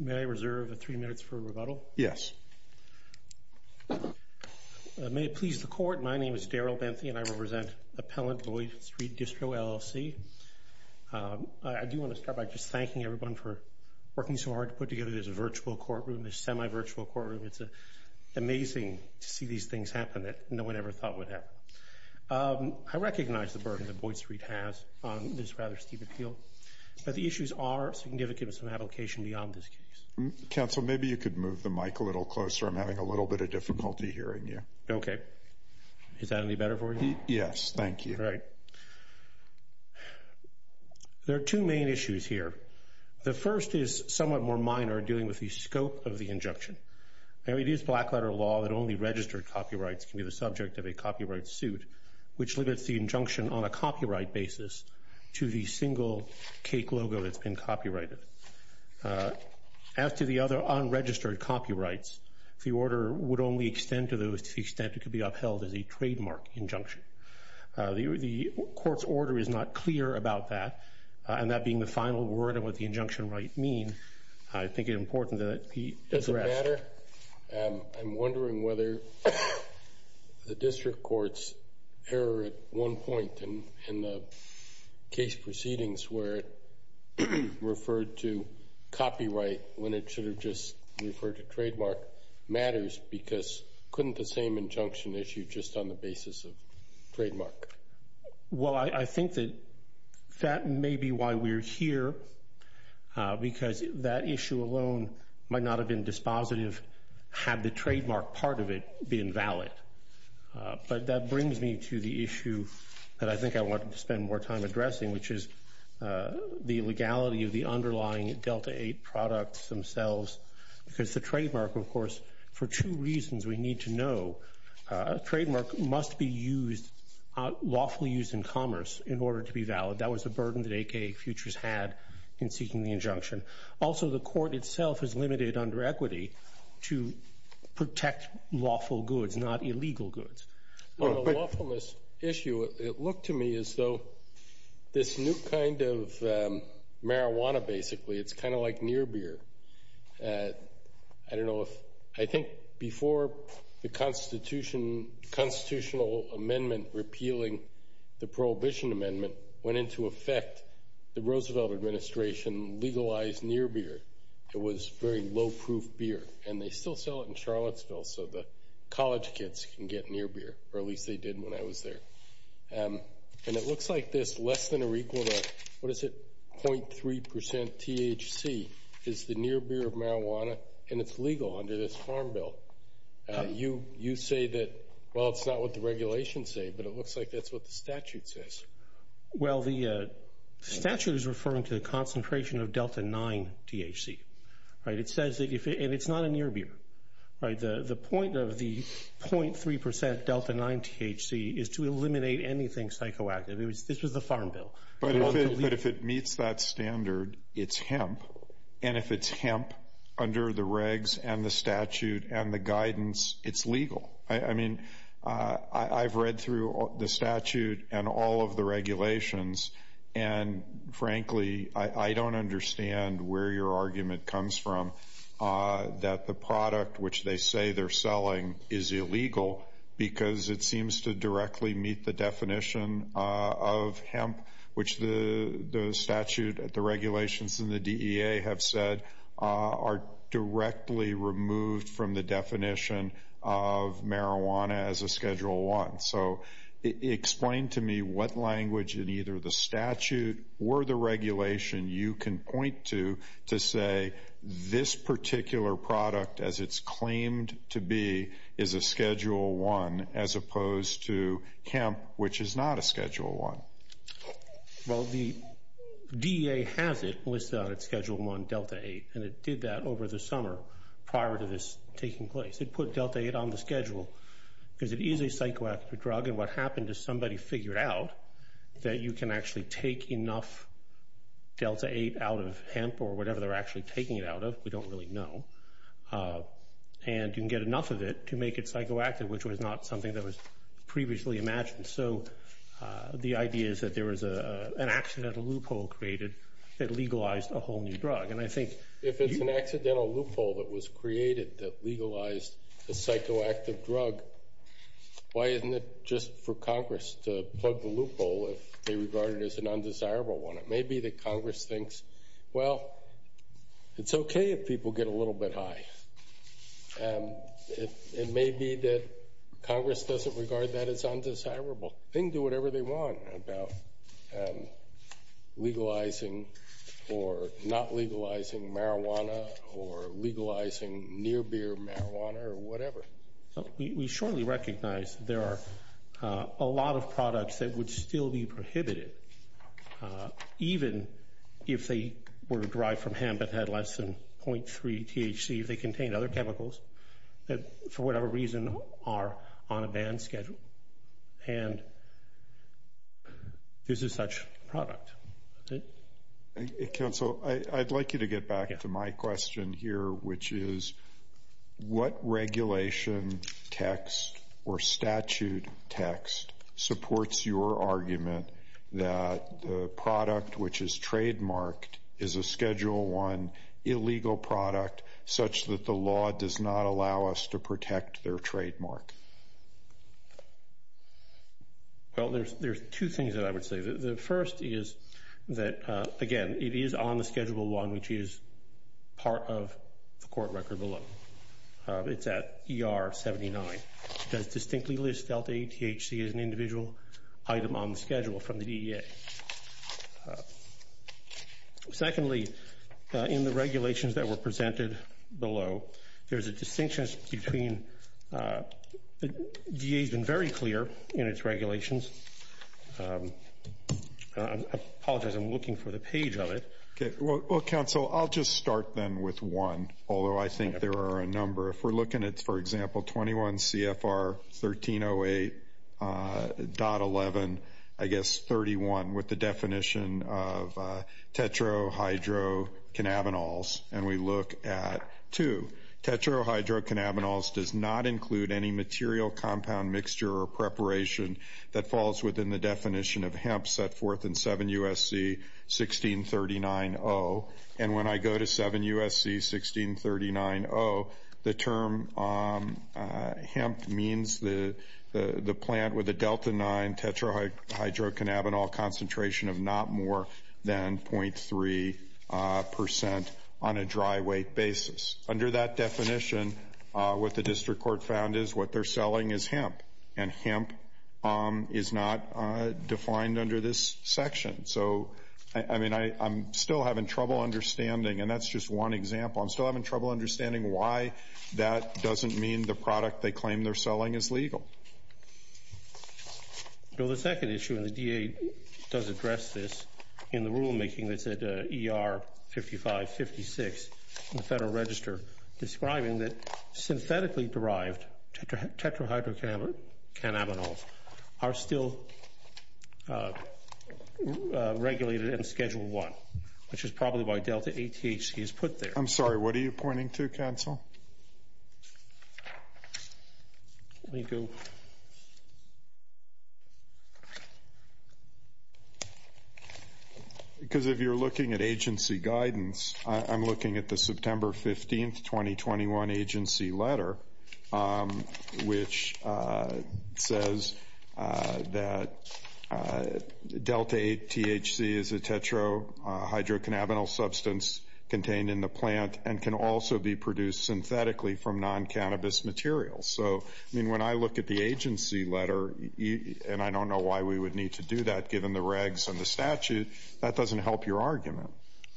May I reserve three minutes for rebuttal? Yes. May it please the court, my name is Daryl Benthy and I represent Appellant Boyd Street Distro, LLC. I do want to start by just thanking everyone for working so hard to put together this virtual courtroom, this semi-virtual courtroom. It's amazing to see these things happen that no one ever thought would happen. I recognize the burden that beyond this case. Counsel, maybe you could move the mic a little closer. I'm having a little bit of difficulty hearing you. Okay. Is that any better for you? Yes, thank you. Right. There are two main issues here. The first is somewhat more minor dealing with the scope of the injunction. It is black letter law that only registered copyrights can be the subject of a copyright suit, which limits the injunction on a copyright basis to the single cake logo that's been copyrighted. As to the other unregistered copyrights, the order would only extend to those to the extent it could be upheld as a trademark injunction. The court's order is not clear about that, and that being the final word on what the injunction might mean, I think it important that it be addressed. Does it matter? I'm wondering whether the district court's error at one point in the case proceedings where it referred to copyright when it should have just referred to trademark matters, because couldn't the same injunction issue just on the basis of trademark? Well, I think that that may be why we're here, because that issue alone might not have been dispositive had the trademark part of it been valid. But that brings me to the issue that I think I wanted to spend more time addressing, which is the legality of the underlying Delta 8 products themselves, because the trademark, of course, for two reasons we need to know. A trademark must be used, lawfully used in commerce, in order to be valid. That was a burden that AK Futures had in seeking the injunction. Also, the lawful goods, not illegal goods. The lawfulness issue, it looked to me as though this new kind of marijuana, basically, it's kind of like near beer. I don't know if, I think before the constitutional amendment repealing the prohibition amendment went into effect, the Roosevelt administration legalized near beer. It was very low proof beer, and they still sell it in Charlottesville, so the college kids can get near beer, or at least they did when I was there. And it looks like this less than or equal to, what is it, 0.3% THC is the near beer of marijuana, and it's legal under this farm bill. You say that, well, it's not what the regulations say, but it looks like that's what the statute says. Well, the statute is referring to the concentration of Delta 9 THC. It says that, and it's not a near beer. The point of the 0.3% Delta 9 THC is to eliminate anything psychoactive. This was the farm bill. But if it meets that standard, it's hemp, and if it's hemp under the regs and the statute and the regulations, and frankly, I don't understand where your argument comes from, that the product which they say they're selling is illegal because it seems to directly meet the definition of hemp, which the statute, the regulations, and the DEA have said are directly removed from the definition of hemp. Is there any language in either the statute or the regulation you can point to to say this particular product, as it's claimed to be, is a Schedule I as opposed to hemp, which is not a Schedule I? Well, the DEA has it listed on its Schedule I, Delta 8, and it did that over the summer prior to this taking place. It put Delta 8 on the schedule because it is a psychoactive drug, and what happened is somebody figured out that you can actually take enough Delta 8 out of hemp, or whatever they're actually taking it out of, we don't really know, and you can get enough of it to make it psychoactive, which was not something that was previously imagined. So the idea is that there was an accidental loophole created that legalized a whole new drug. And I think if it's an accidental loophole that was created that legalized a psychoactive drug, why isn't it just for to plug the loophole if they regard it as an undesirable one? It may be that Congress thinks, well, it's okay if people get a little bit high. It may be that Congress doesn't regard that as undesirable. They can do whatever they want about legalizing or not legalizing marijuana, or legalizing near-beer marijuana, or whatever. We surely recognize there are a lot of products that would still be prohibited, even if they were derived from hemp that had less than 0.3 THC, if they contained other chemicals that, for whatever reason, are on a ban schedule. And this is such a product. Counsel, I'd like you to get back to my question here, which is, what regulation text or statute text supports your argument that the product which is trademarked is a Schedule I illegal product such that the law does not allow us to protect their trademark? Well, there's two things that I would say. The first is that, again, it is on the Schedule I, which is part of the court record below. It's at ER 79. It does distinctly list delta-8 THC as an individual item on the schedule from the DEA. Secondly, in the regulations that were presented below, there's a distinction between the DEA's been very clear in its regulations. I apologize, I'm looking for the page of it. Well, Counsel, I'll just start then with one, although I think there are a number. If we're looking at, for example, 21 CFR 1308.11, I guess 31, with the definition of tetrahydrocannabinols, and we look at two. Tetrahydrocannabinols does not include any material, compound, mixture, or preparation that falls within the definition of hemp set forth in 7 U.S.C. 1639.0. And when I go to 7 U.S.C. 1639.0, the term hemp means the plant with a delta-9 tetrahydrocannabinol concentration of not more than 0.3 percent on a dry weight basis. Under that definition, the district court found is what they're selling is hemp, and hemp is not defined under this section. So, I mean, I'm still having trouble understanding, and that's just one example, I'm still having trouble understanding why that doesn't mean the product they claim they're selling is legal. Bill, the second issue, and the DEA does address this in the rulemaking that's at ER 55-56 in the Federal Register, describing that synthetically derived tetrahydrocannabinols are still regulated in Schedule I, which is probably why Delta ATHC is put there. I'm sorry, what are you pointing to, Bill? If you're looking at agency guidance, I'm looking at the September 15, 2021 agency letter, which says that Delta ATHC is a tetrahydrocannabinol substance contained in the plant and can also be produced synthetically from non-cannabis materials. So, I mean, when I look at the agency letter, and I don't know why we would need to do that given the regs and the statute, that doesn't help your argument.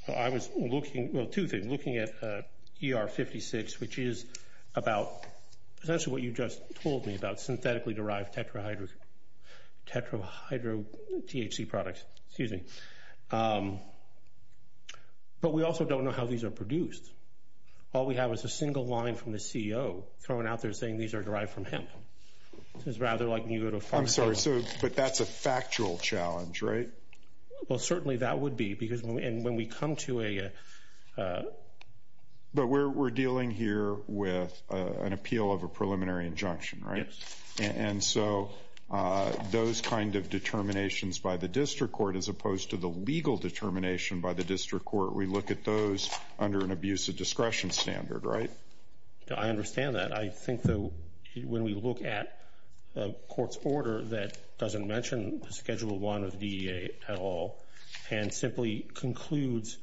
I was looking, well, two things. Looking at ER 56, which is about essentially what you just told me about, synthetically derived tetrahydro... tetrahydro... THC products, excuse me. But we also don't know how these are produced. All we have is a single line from the CEO throwing out there saying these are derived from hemp. It's rather like when you go to... I'm sorry, but that's a factual challenge, right? Well, certainly that would be because when we come to a... But we're dealing here with an appeal of a preliminary injunction, right? Yes. And so those kind of determinations by the district court as opposed to the legal determination by the district court, we look at those under an abuse of discretion standard, right? I understand that. I think though when we look at a court's order that doesn't mention Schedule 1 of DEA at all and simply concludes,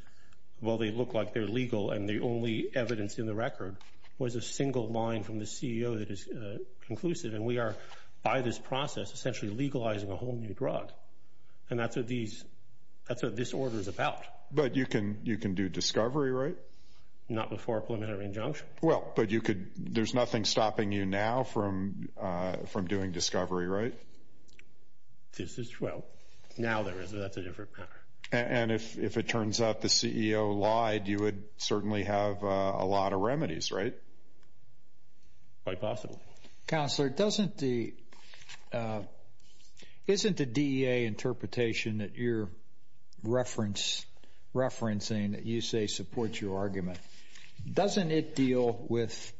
well, they look like they're legal and the only evidence in the record was a single line from the CEO that is conclusive. And we are, by this process, essentially legalizing a whole new drug. And that's what these... That's what this order is about. But you can do discovery, right? Not before a preliminary injunction. Well, but you could... There's nothing stopping you now from doing discovery, right? This is... Well, now there is, but that's a different matter. And if it turns out the CEO lied, you would certainly have a lot of remedies, right? Quite possibly. Counselor, doesn't the... Isn't the DEA interpretation that you're referencing that you say supports your argument, doesn't it deal with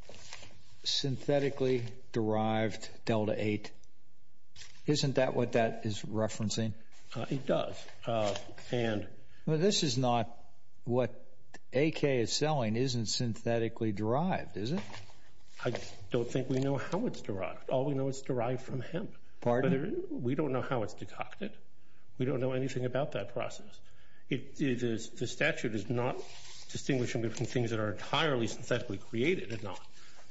synthetically derived Delta 8? Isn't that what that is referencing? It does. And... Well, this is not what AK is selling isn't synthetically derived, is it? I don't think we know how it's derived. All we know it's derived from hemp. Pardon? We don't know how it's derived. The statute is not distinguishing between things that are entirely synthetically created. It's not.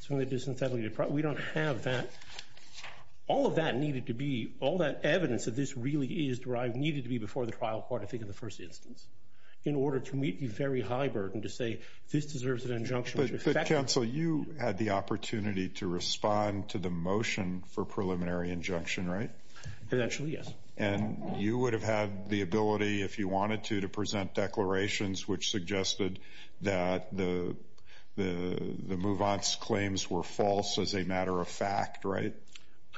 So when they do synthetically derived, we don't have that. All of that needed to be... All that evidence that this really is derived needed to be before the trial court, I think, in the first instance, in order to meet the very high burden to say this deserves an injunction. But counsel, you had the opportunity to respond to the motion for preliminary injunction, right? Eventually, yes. And you would have had the conclusions which suggested that the Mouvant's claims were false as a matter of fact, right?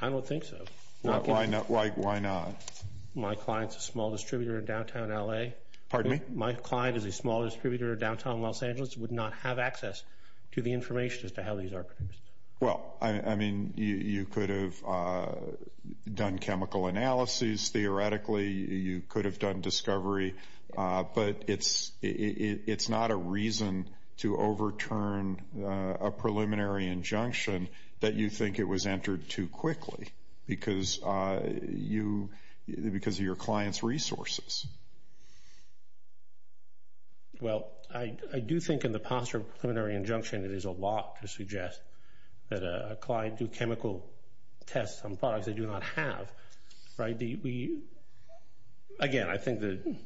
I don't think so. Why not? My client is a small distributor in downtown LA. Pardon me? My client is a small distributor in downtown Los Angeles, would not have access to the information as to how these are produced. Well, I mean, you could have done chemical analyses theoretically. You could have done discovery. But it's not a reason to overturn a preliminary injunction that you think it was entered too quickly because of your client's resources. Well, I do think in the posture of preliminary injunction, it is a lot to suggest that a client do chemical tests on products they do not have, right? Again, I think that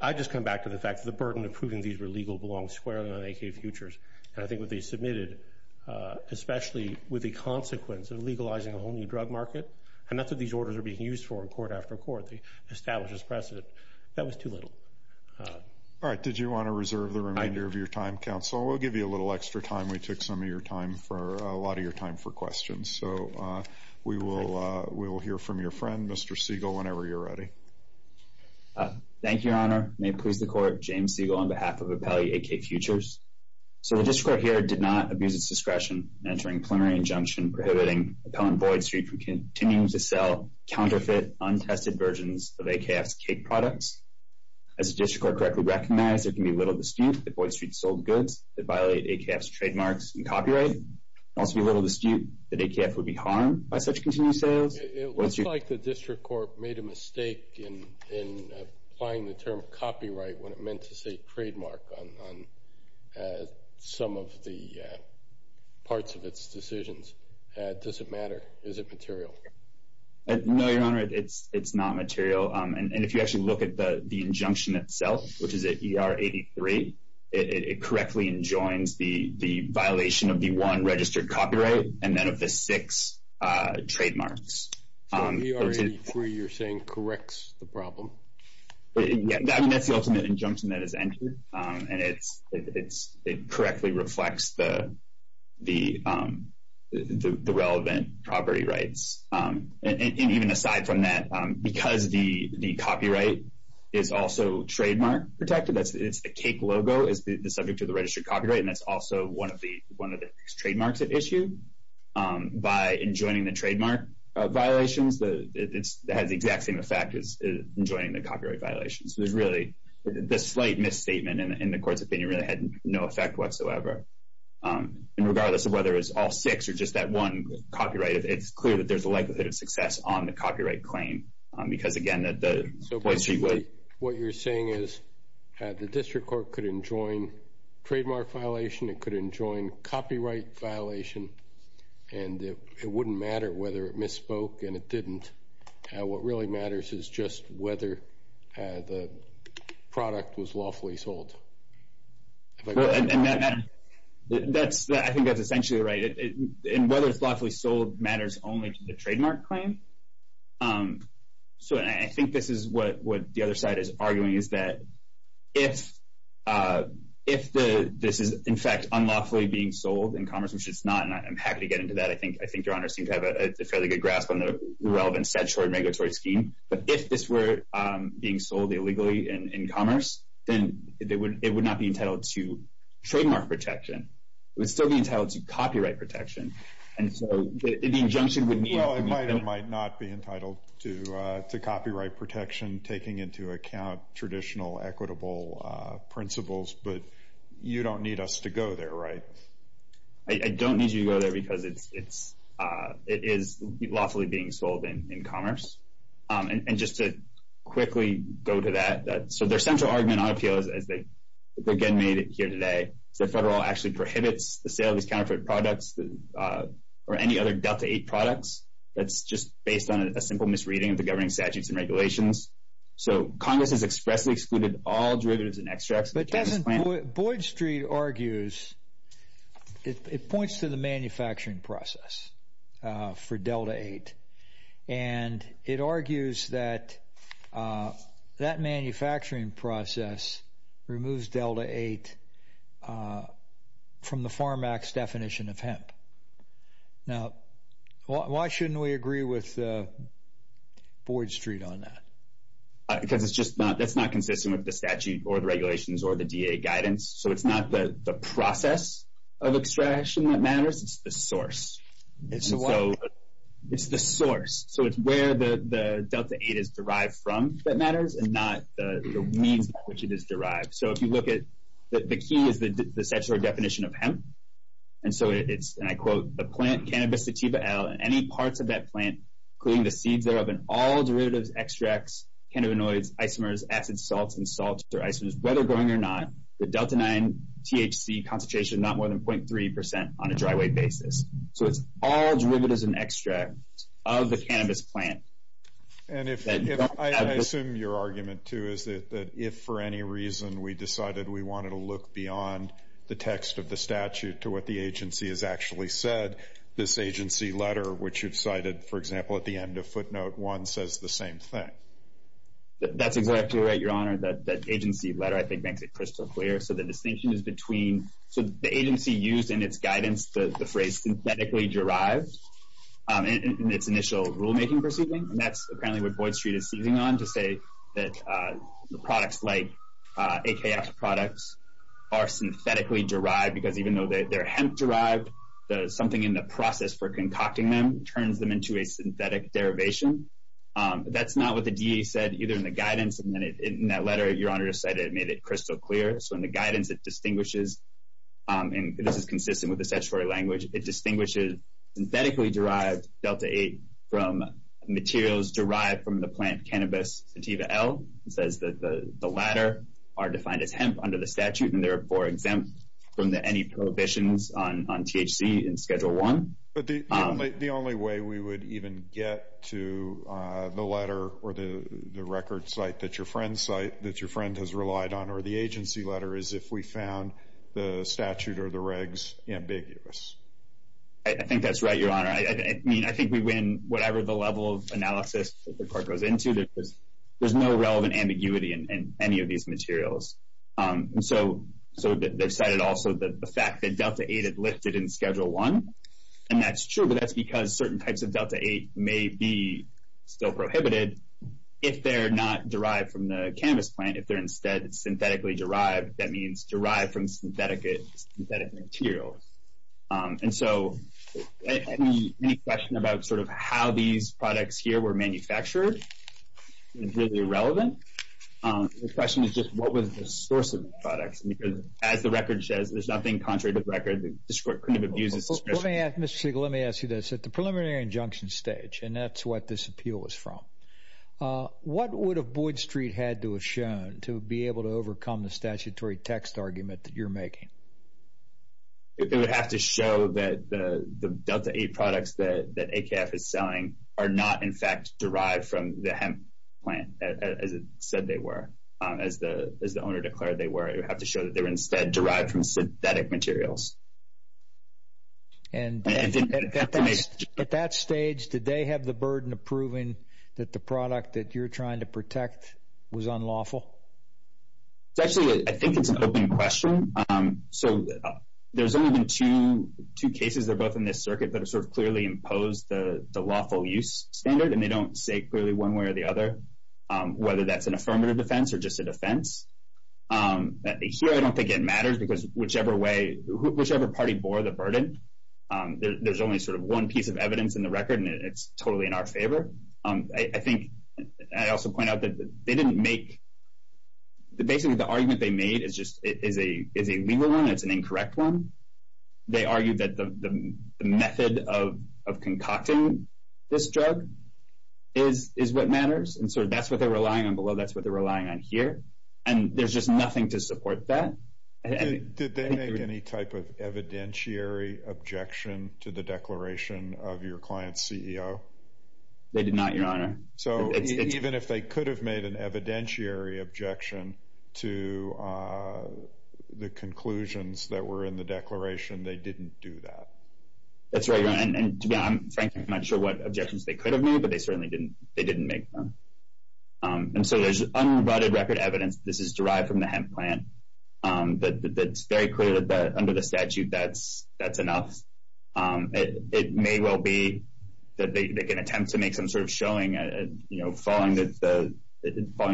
I just come back to the fact that the burden of proving these were legal belongs squarely on AK Futures. And I think what they submitted, especially with the consequence of legalizing a whole new drug market, and not that these orders are being used for in court after court, the established precedent, that was too little. All right. Did you want to reserve the remainder of your time, counsel? We'll give you a little hear from your friend, Mr. Siegel, whenever you're ready. Thank you, Your Honor. May it please the court, James Siegel, on behalf of Appellee AK Futures. So the district court here did not abuse its discretion in entering a preliminary injunction prohibiting Appellant Boyd Street from continuing to sell counterfeit, untested versions of AKF's cake products. As the district court correctly recognized, it can be little dispute that Boyd Street sold goods that violate AKF's trademarks and copyright. It can also be little dispute that AKF would be harmed by such continued sales. It looks like the district court made a mistake in applying the term copyright when it meant to say trademark on some of the parts of its decisions. Does it matter? Is it material? No, Your Honor, it's not material. And if you actually look at the injunction itself, which is at ER 83, it correctly enjoins the one registered copyright and then of the six trademarks. So ER 83, you're saying, corrects the problem? Yeah, that's the ultimate injunction that is entered, and it correctly reflects the relevant property rights. And even aside from that, because the copyright is also trademark protected, it's the cake logo is the subject of the registered copyright, and that's also one of the trademarks it issued. By enjoining the trademark violations, it has the exact same effect as enjoining the copyright violations. So there's really, the slight misstatement in the court's opinion really had no effect whatsoever. And regardless of whether it's all six or just that one copyright, it's clear that there's a likelihood of success on the copyright claim, because again, that the Boyd Street would... enjoin copyright violation, and it wouldn't matter whether it misspoke and it didn't. What really matters is just whether the product was lawfully sold. I think that's essentially right. And whether it's lawfully sold matters only to the trademark claim. So I think this is what the other side is arguing, is that if this is in fact unlawfully being sold in commerce, which it's not, and I'm happy to get into that, I think Your Honor seems to have a fairly good grasp on the relevance of that short regulatory scheme. But if this were being sold illegally in commerce, then it would not be entitled to trademark protection. It would still be entitled to copyright protection. And so the injunction would mean... Well, it might or might not be entitled to copyright protection, taking into account traditional equitable principles, but you don't need us to go there, right? I don't need you to go there because it is lawfully being sold in commerce. And just to quickly go to that, so their central argument on appeal, as they again made it here today, is that Federal actually prohibits the sale of these counterfeit products or any other Delta 8 products. That's just based on a simple misreading of the governing statutes and regulations. So Congress has expressly excluded all derivatives and extracts... But doesn't Boyd Street argues, it points to the manufacturing process for Delta 8, and it argues that that manufacturing process removes Delta 8 from the Farm Act's definition of hemp. Now, why shouldn't we agree with Boyd Street on that? Because it's just not, that's not consistent with the statute or the regulations or the DA guidance. So it's not the process of extraction that matters, it's the source. It's the what? It's the source. So it's where the Delta 8 is derived from that matters, and not the means by which it is derived. So if you look at, the key is the statutory definition of it, and I quote, the plant, Cannabis Sativa L, and any parts of that plant, including the seeds thereof, and all derivatives, extracts, cannabinoids, isomers, acids, salts, and salts or isomers, whether growing or not, the Delta 9 THC concentration is not more than 0.3% on a dry weight basis. So it's all derivatives and extracts of the cannabis plant. And I assume your argument too is that if for any reason we decided we wanted to look beyond the text of the statute to what the agency has actually said, this agency letter, which you've cited, for example, at the end of footnote one, says the same thing. That's exactly right, Your Honor. That agency letter, I think, makes it crystal clear. So the distinction is between, so the agency used in its guidance, the phrase synthetically derived in its initial rulemaking proceeding, and that's apparently what Boyd Street is trying to say, that products like AKX products are synthetically derived because even though they're hemp-derived, something in the process for concocting them turns them into a synthetic derivation. That's not what the DEA said either in the guidance, and in that letter, Your Honor just said it made it crystal clear. So in the guidance, it distinguishes, and this is consistent with the statutory language, it distinguishes synthetically derived Delta 8 from materials derived from the plant cannabis Sativa L. It says that the latter are defined as hemp under the statute, and therefore exempt from any prohibitions on THC in Schedule 1. But the only way we would even get to the letter or the record site that your friend has relied on or the agency letter is if we found the statute or the regs ambiguous. I think that's right, Your Honor. I mean, I think we win whatever the level of analysis that the court goes into. There's no relevant ambiguity in any of these materials. So they've cited also the fact that Delta 8 had lifted in Schedule 1, and that's true, but that's because certain types of Delta 8 may be still prohibited if they're not derived from the cannabis plant. If they're instead synthetically derived, that means derived from synthetic materials. And so any question about sort of how these products here were manufactured is really irrelevant. The question is just what was the source of the products? Because as the record says, there's nothing contrary to the record. Mr. Siegel, let me ask you this. At the preliminary injunction stage, and that's what this appeal was from, what would have Boyd Street had to have shown to be able to overcome the statutory text argument that you're making? It would have to show that the Delta 8 products that AKF is selling are not in fact derived from the hemp plant as it said they were, as the owner declared they were. It would have to show that they were instead derived from synthetic materials. And at that stage, did they have the burden of proving that the product that you're trying to protect was unlawful? Well, actually, I think it's an open question. So there's only been two cases that are both in this circuit that have sort of clearly imposed the lawful use standard, and they don't say clearly one way or the other whether that's an affirmative defense or just a defense. Here, I don't think it matters because whichever way, whichever party bore the burden, there's only sort of one piece of evidence in the record, and it's totally in our favor. I think I also point out that they didn't make... Basically, the argument they made is a legal one, it's an incorrect one. They argued that the method of concocting this drug is what matters, and so that's what they're relying on below, that's what they're relying on here. And there's just nothing to support that. Did they make any type of evidentiary objection to the declaration of your client's CEO? They did not, Your Honor. So even if they could have made an evidentiary objection to the conclusions that were in the declaration, they didn't do that? That's right, Your Honor. And frankly, I'm not sure what objections they could have made, but they certainly didn't make them. And so there's unrebutted record evidence, this is derived from the hemp plant, that's very clear that under the statute that's enough. It may well be that they can attempt to make some sort of showing following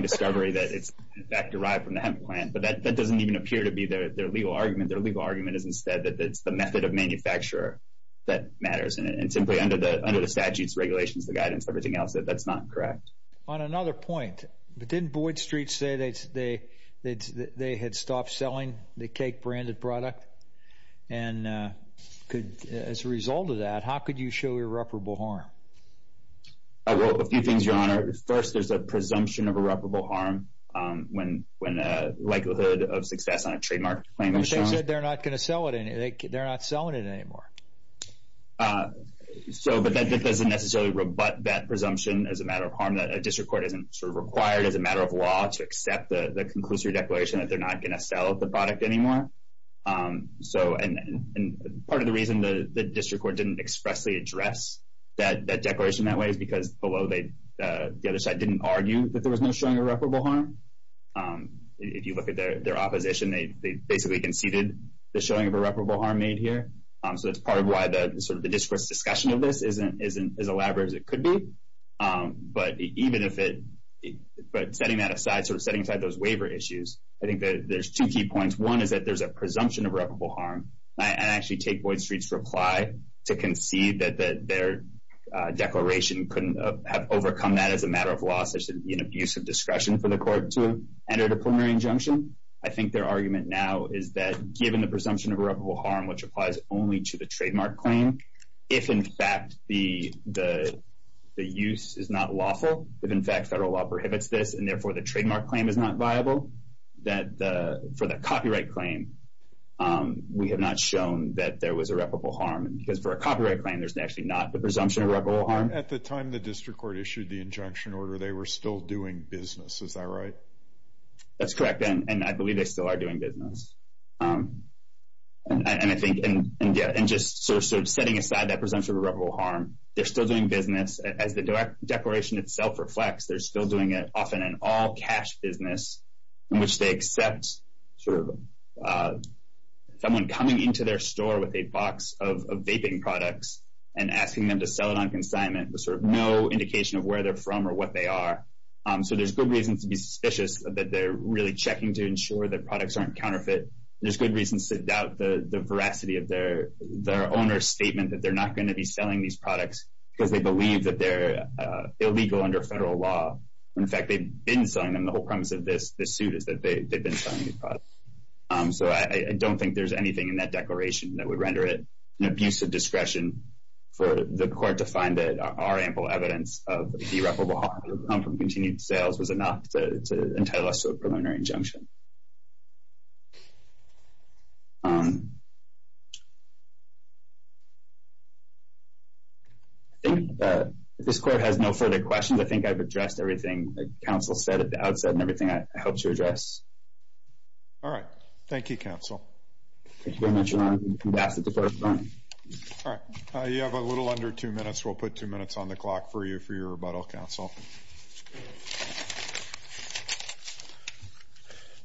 discovery that it's in fact derived from the hemp plant, but that doesn't even appear to be their legal argument. Their legal argument is instead that it's the method of manufacture that matters, and simply under the statute's regulations, the guidance, everything else, that that's not correct. On another point, didn't Boyd Street say that they had stopped selling the cake-branded product? And as a result of that, how could you show irreparable harm? Well, a few things, Your Honor. First, there's a presumption of irreparable harm when likelihood of success on a trademark claim is shown. But they said they're not going to sell it, they're not selling it anymore. So, but that doesn't necessarily rebut that presumption as a matter of harm, that a district court isn't sort of required as a matter of law to accept the conclusory declaration that they're not going to sell the product anymore. So, and part of the reason the district court didn't expressly address that declaration that way is because below, the other side didn't argue that there was no showing irreparable harm. If you look at their opposition, they basically conceded the showing of irreparable harm made clear. So, that's part of why the district court's discussion of this isn't as elaborate as it could be. But even if it, but setting that aside, sort of setting aside those waiver issues, I think there's two key points. One is that there's a presumption of irreparable harm. And I actually take Boyd Street's reply to concede that their declaration couldn't have overcome that as a matter of law, such as an abuse of discretion for the court to enter a preliminary injunction. I think their argument now is that given the presumption of irreparable harm, which applies only to the trademark claim, if in fact the use is not lawful, if in fact federal law prohibits this, and therefore the trademark claim is not viable, that for the copyright claim, we have not shown that there was irreparable harm. Because for a copyright claim, there's actually not the presumption of irreparable harm. At the time the district court issued the injunction order, they were still doing business. Is that right? That's correct. And I believe they still are doing business. And I think, and yeah, and just sort of setting aside that presumption of irreparable harm, they're still doing business. As the declaration itself reflects, they're still doing it often in all cash business, in which they accept sort of someone coming into their store with a box of vaping products and asking them to sell it on consignment with sort of no indication of where they're from or what they are. So there's good reasons to be suspicious that they're really checking to ensure that products aren't counterfeit. There's good reasons to doubt the veracity of their owner's statement that they're not going to be selling these products because they believe that they're illegal under federal law, when in fact they've been selling them. The whole premise of this suit is that they've been selling these products. So I don't think there's anything in that declaration that would render it an abuse of discretion for the court to find that there are ample evidence of irreparable harm from continued sales was enough to entitle us to a preliminary injunction. I think this court has no further questions. I think I've addressed everything that counsel said at the outset and everything I helped to address. All right. Thank you, counsel. Thank you very much, Ron. I'm going to ask that the court adjourn. All right. You have a little under two minutes. We'll put two minutes on the clock for you for your rebuttal, counsel.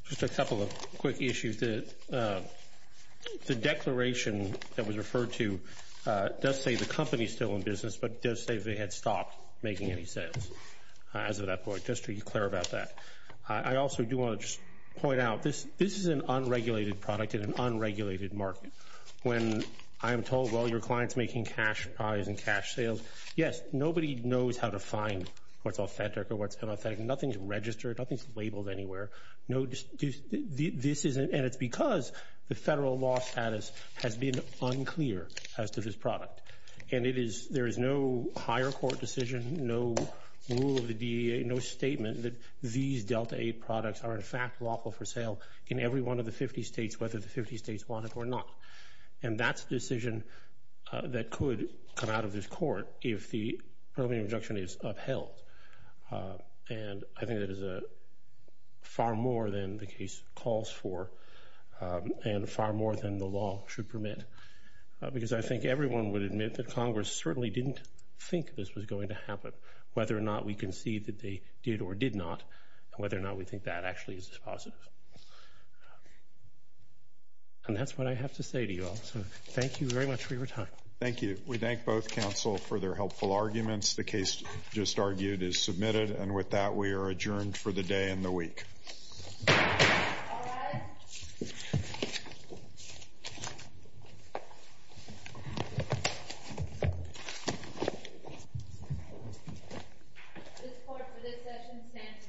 Just a couple of quick issues. The declaration that was referred to does say the company is still in business, but it does say they had stopped making any sales as of that point, just to be clear about that. I also do want to just point out this is an unregulated product in an unregulated market. When I'm told, well, your client's making cash buys and cash sales, yes, nobody knows how to find what's authentic or what's inauthentic. Nothing's registered. Nothing's labeled anywhere. And it's because the federal law status has been unclear as to this product. And there is no higher court decision, no rule of the DEA, no statement that these Delta A products are in fact lawful for sale in every one of the 50 states, whether the 50 states want it or not. And that's a decision that could come out of this court if the early reduction is upheld. And I think that is far more than the case calls for and far more than the law should permit, because I think everyone would admit that Congress certainly didn't think this was going to happen, whether or not we concede that they did or did not, whether or not we think that actually is positive. And that's what I have to say to you all. So thank you very much for your time. Thank you. We thank both counsel for their helpful arguments. The case just argued is submitted. And with that, we are adjourned for the day and the week. All rise. This court for this session stands adjourned. This court is adjourned.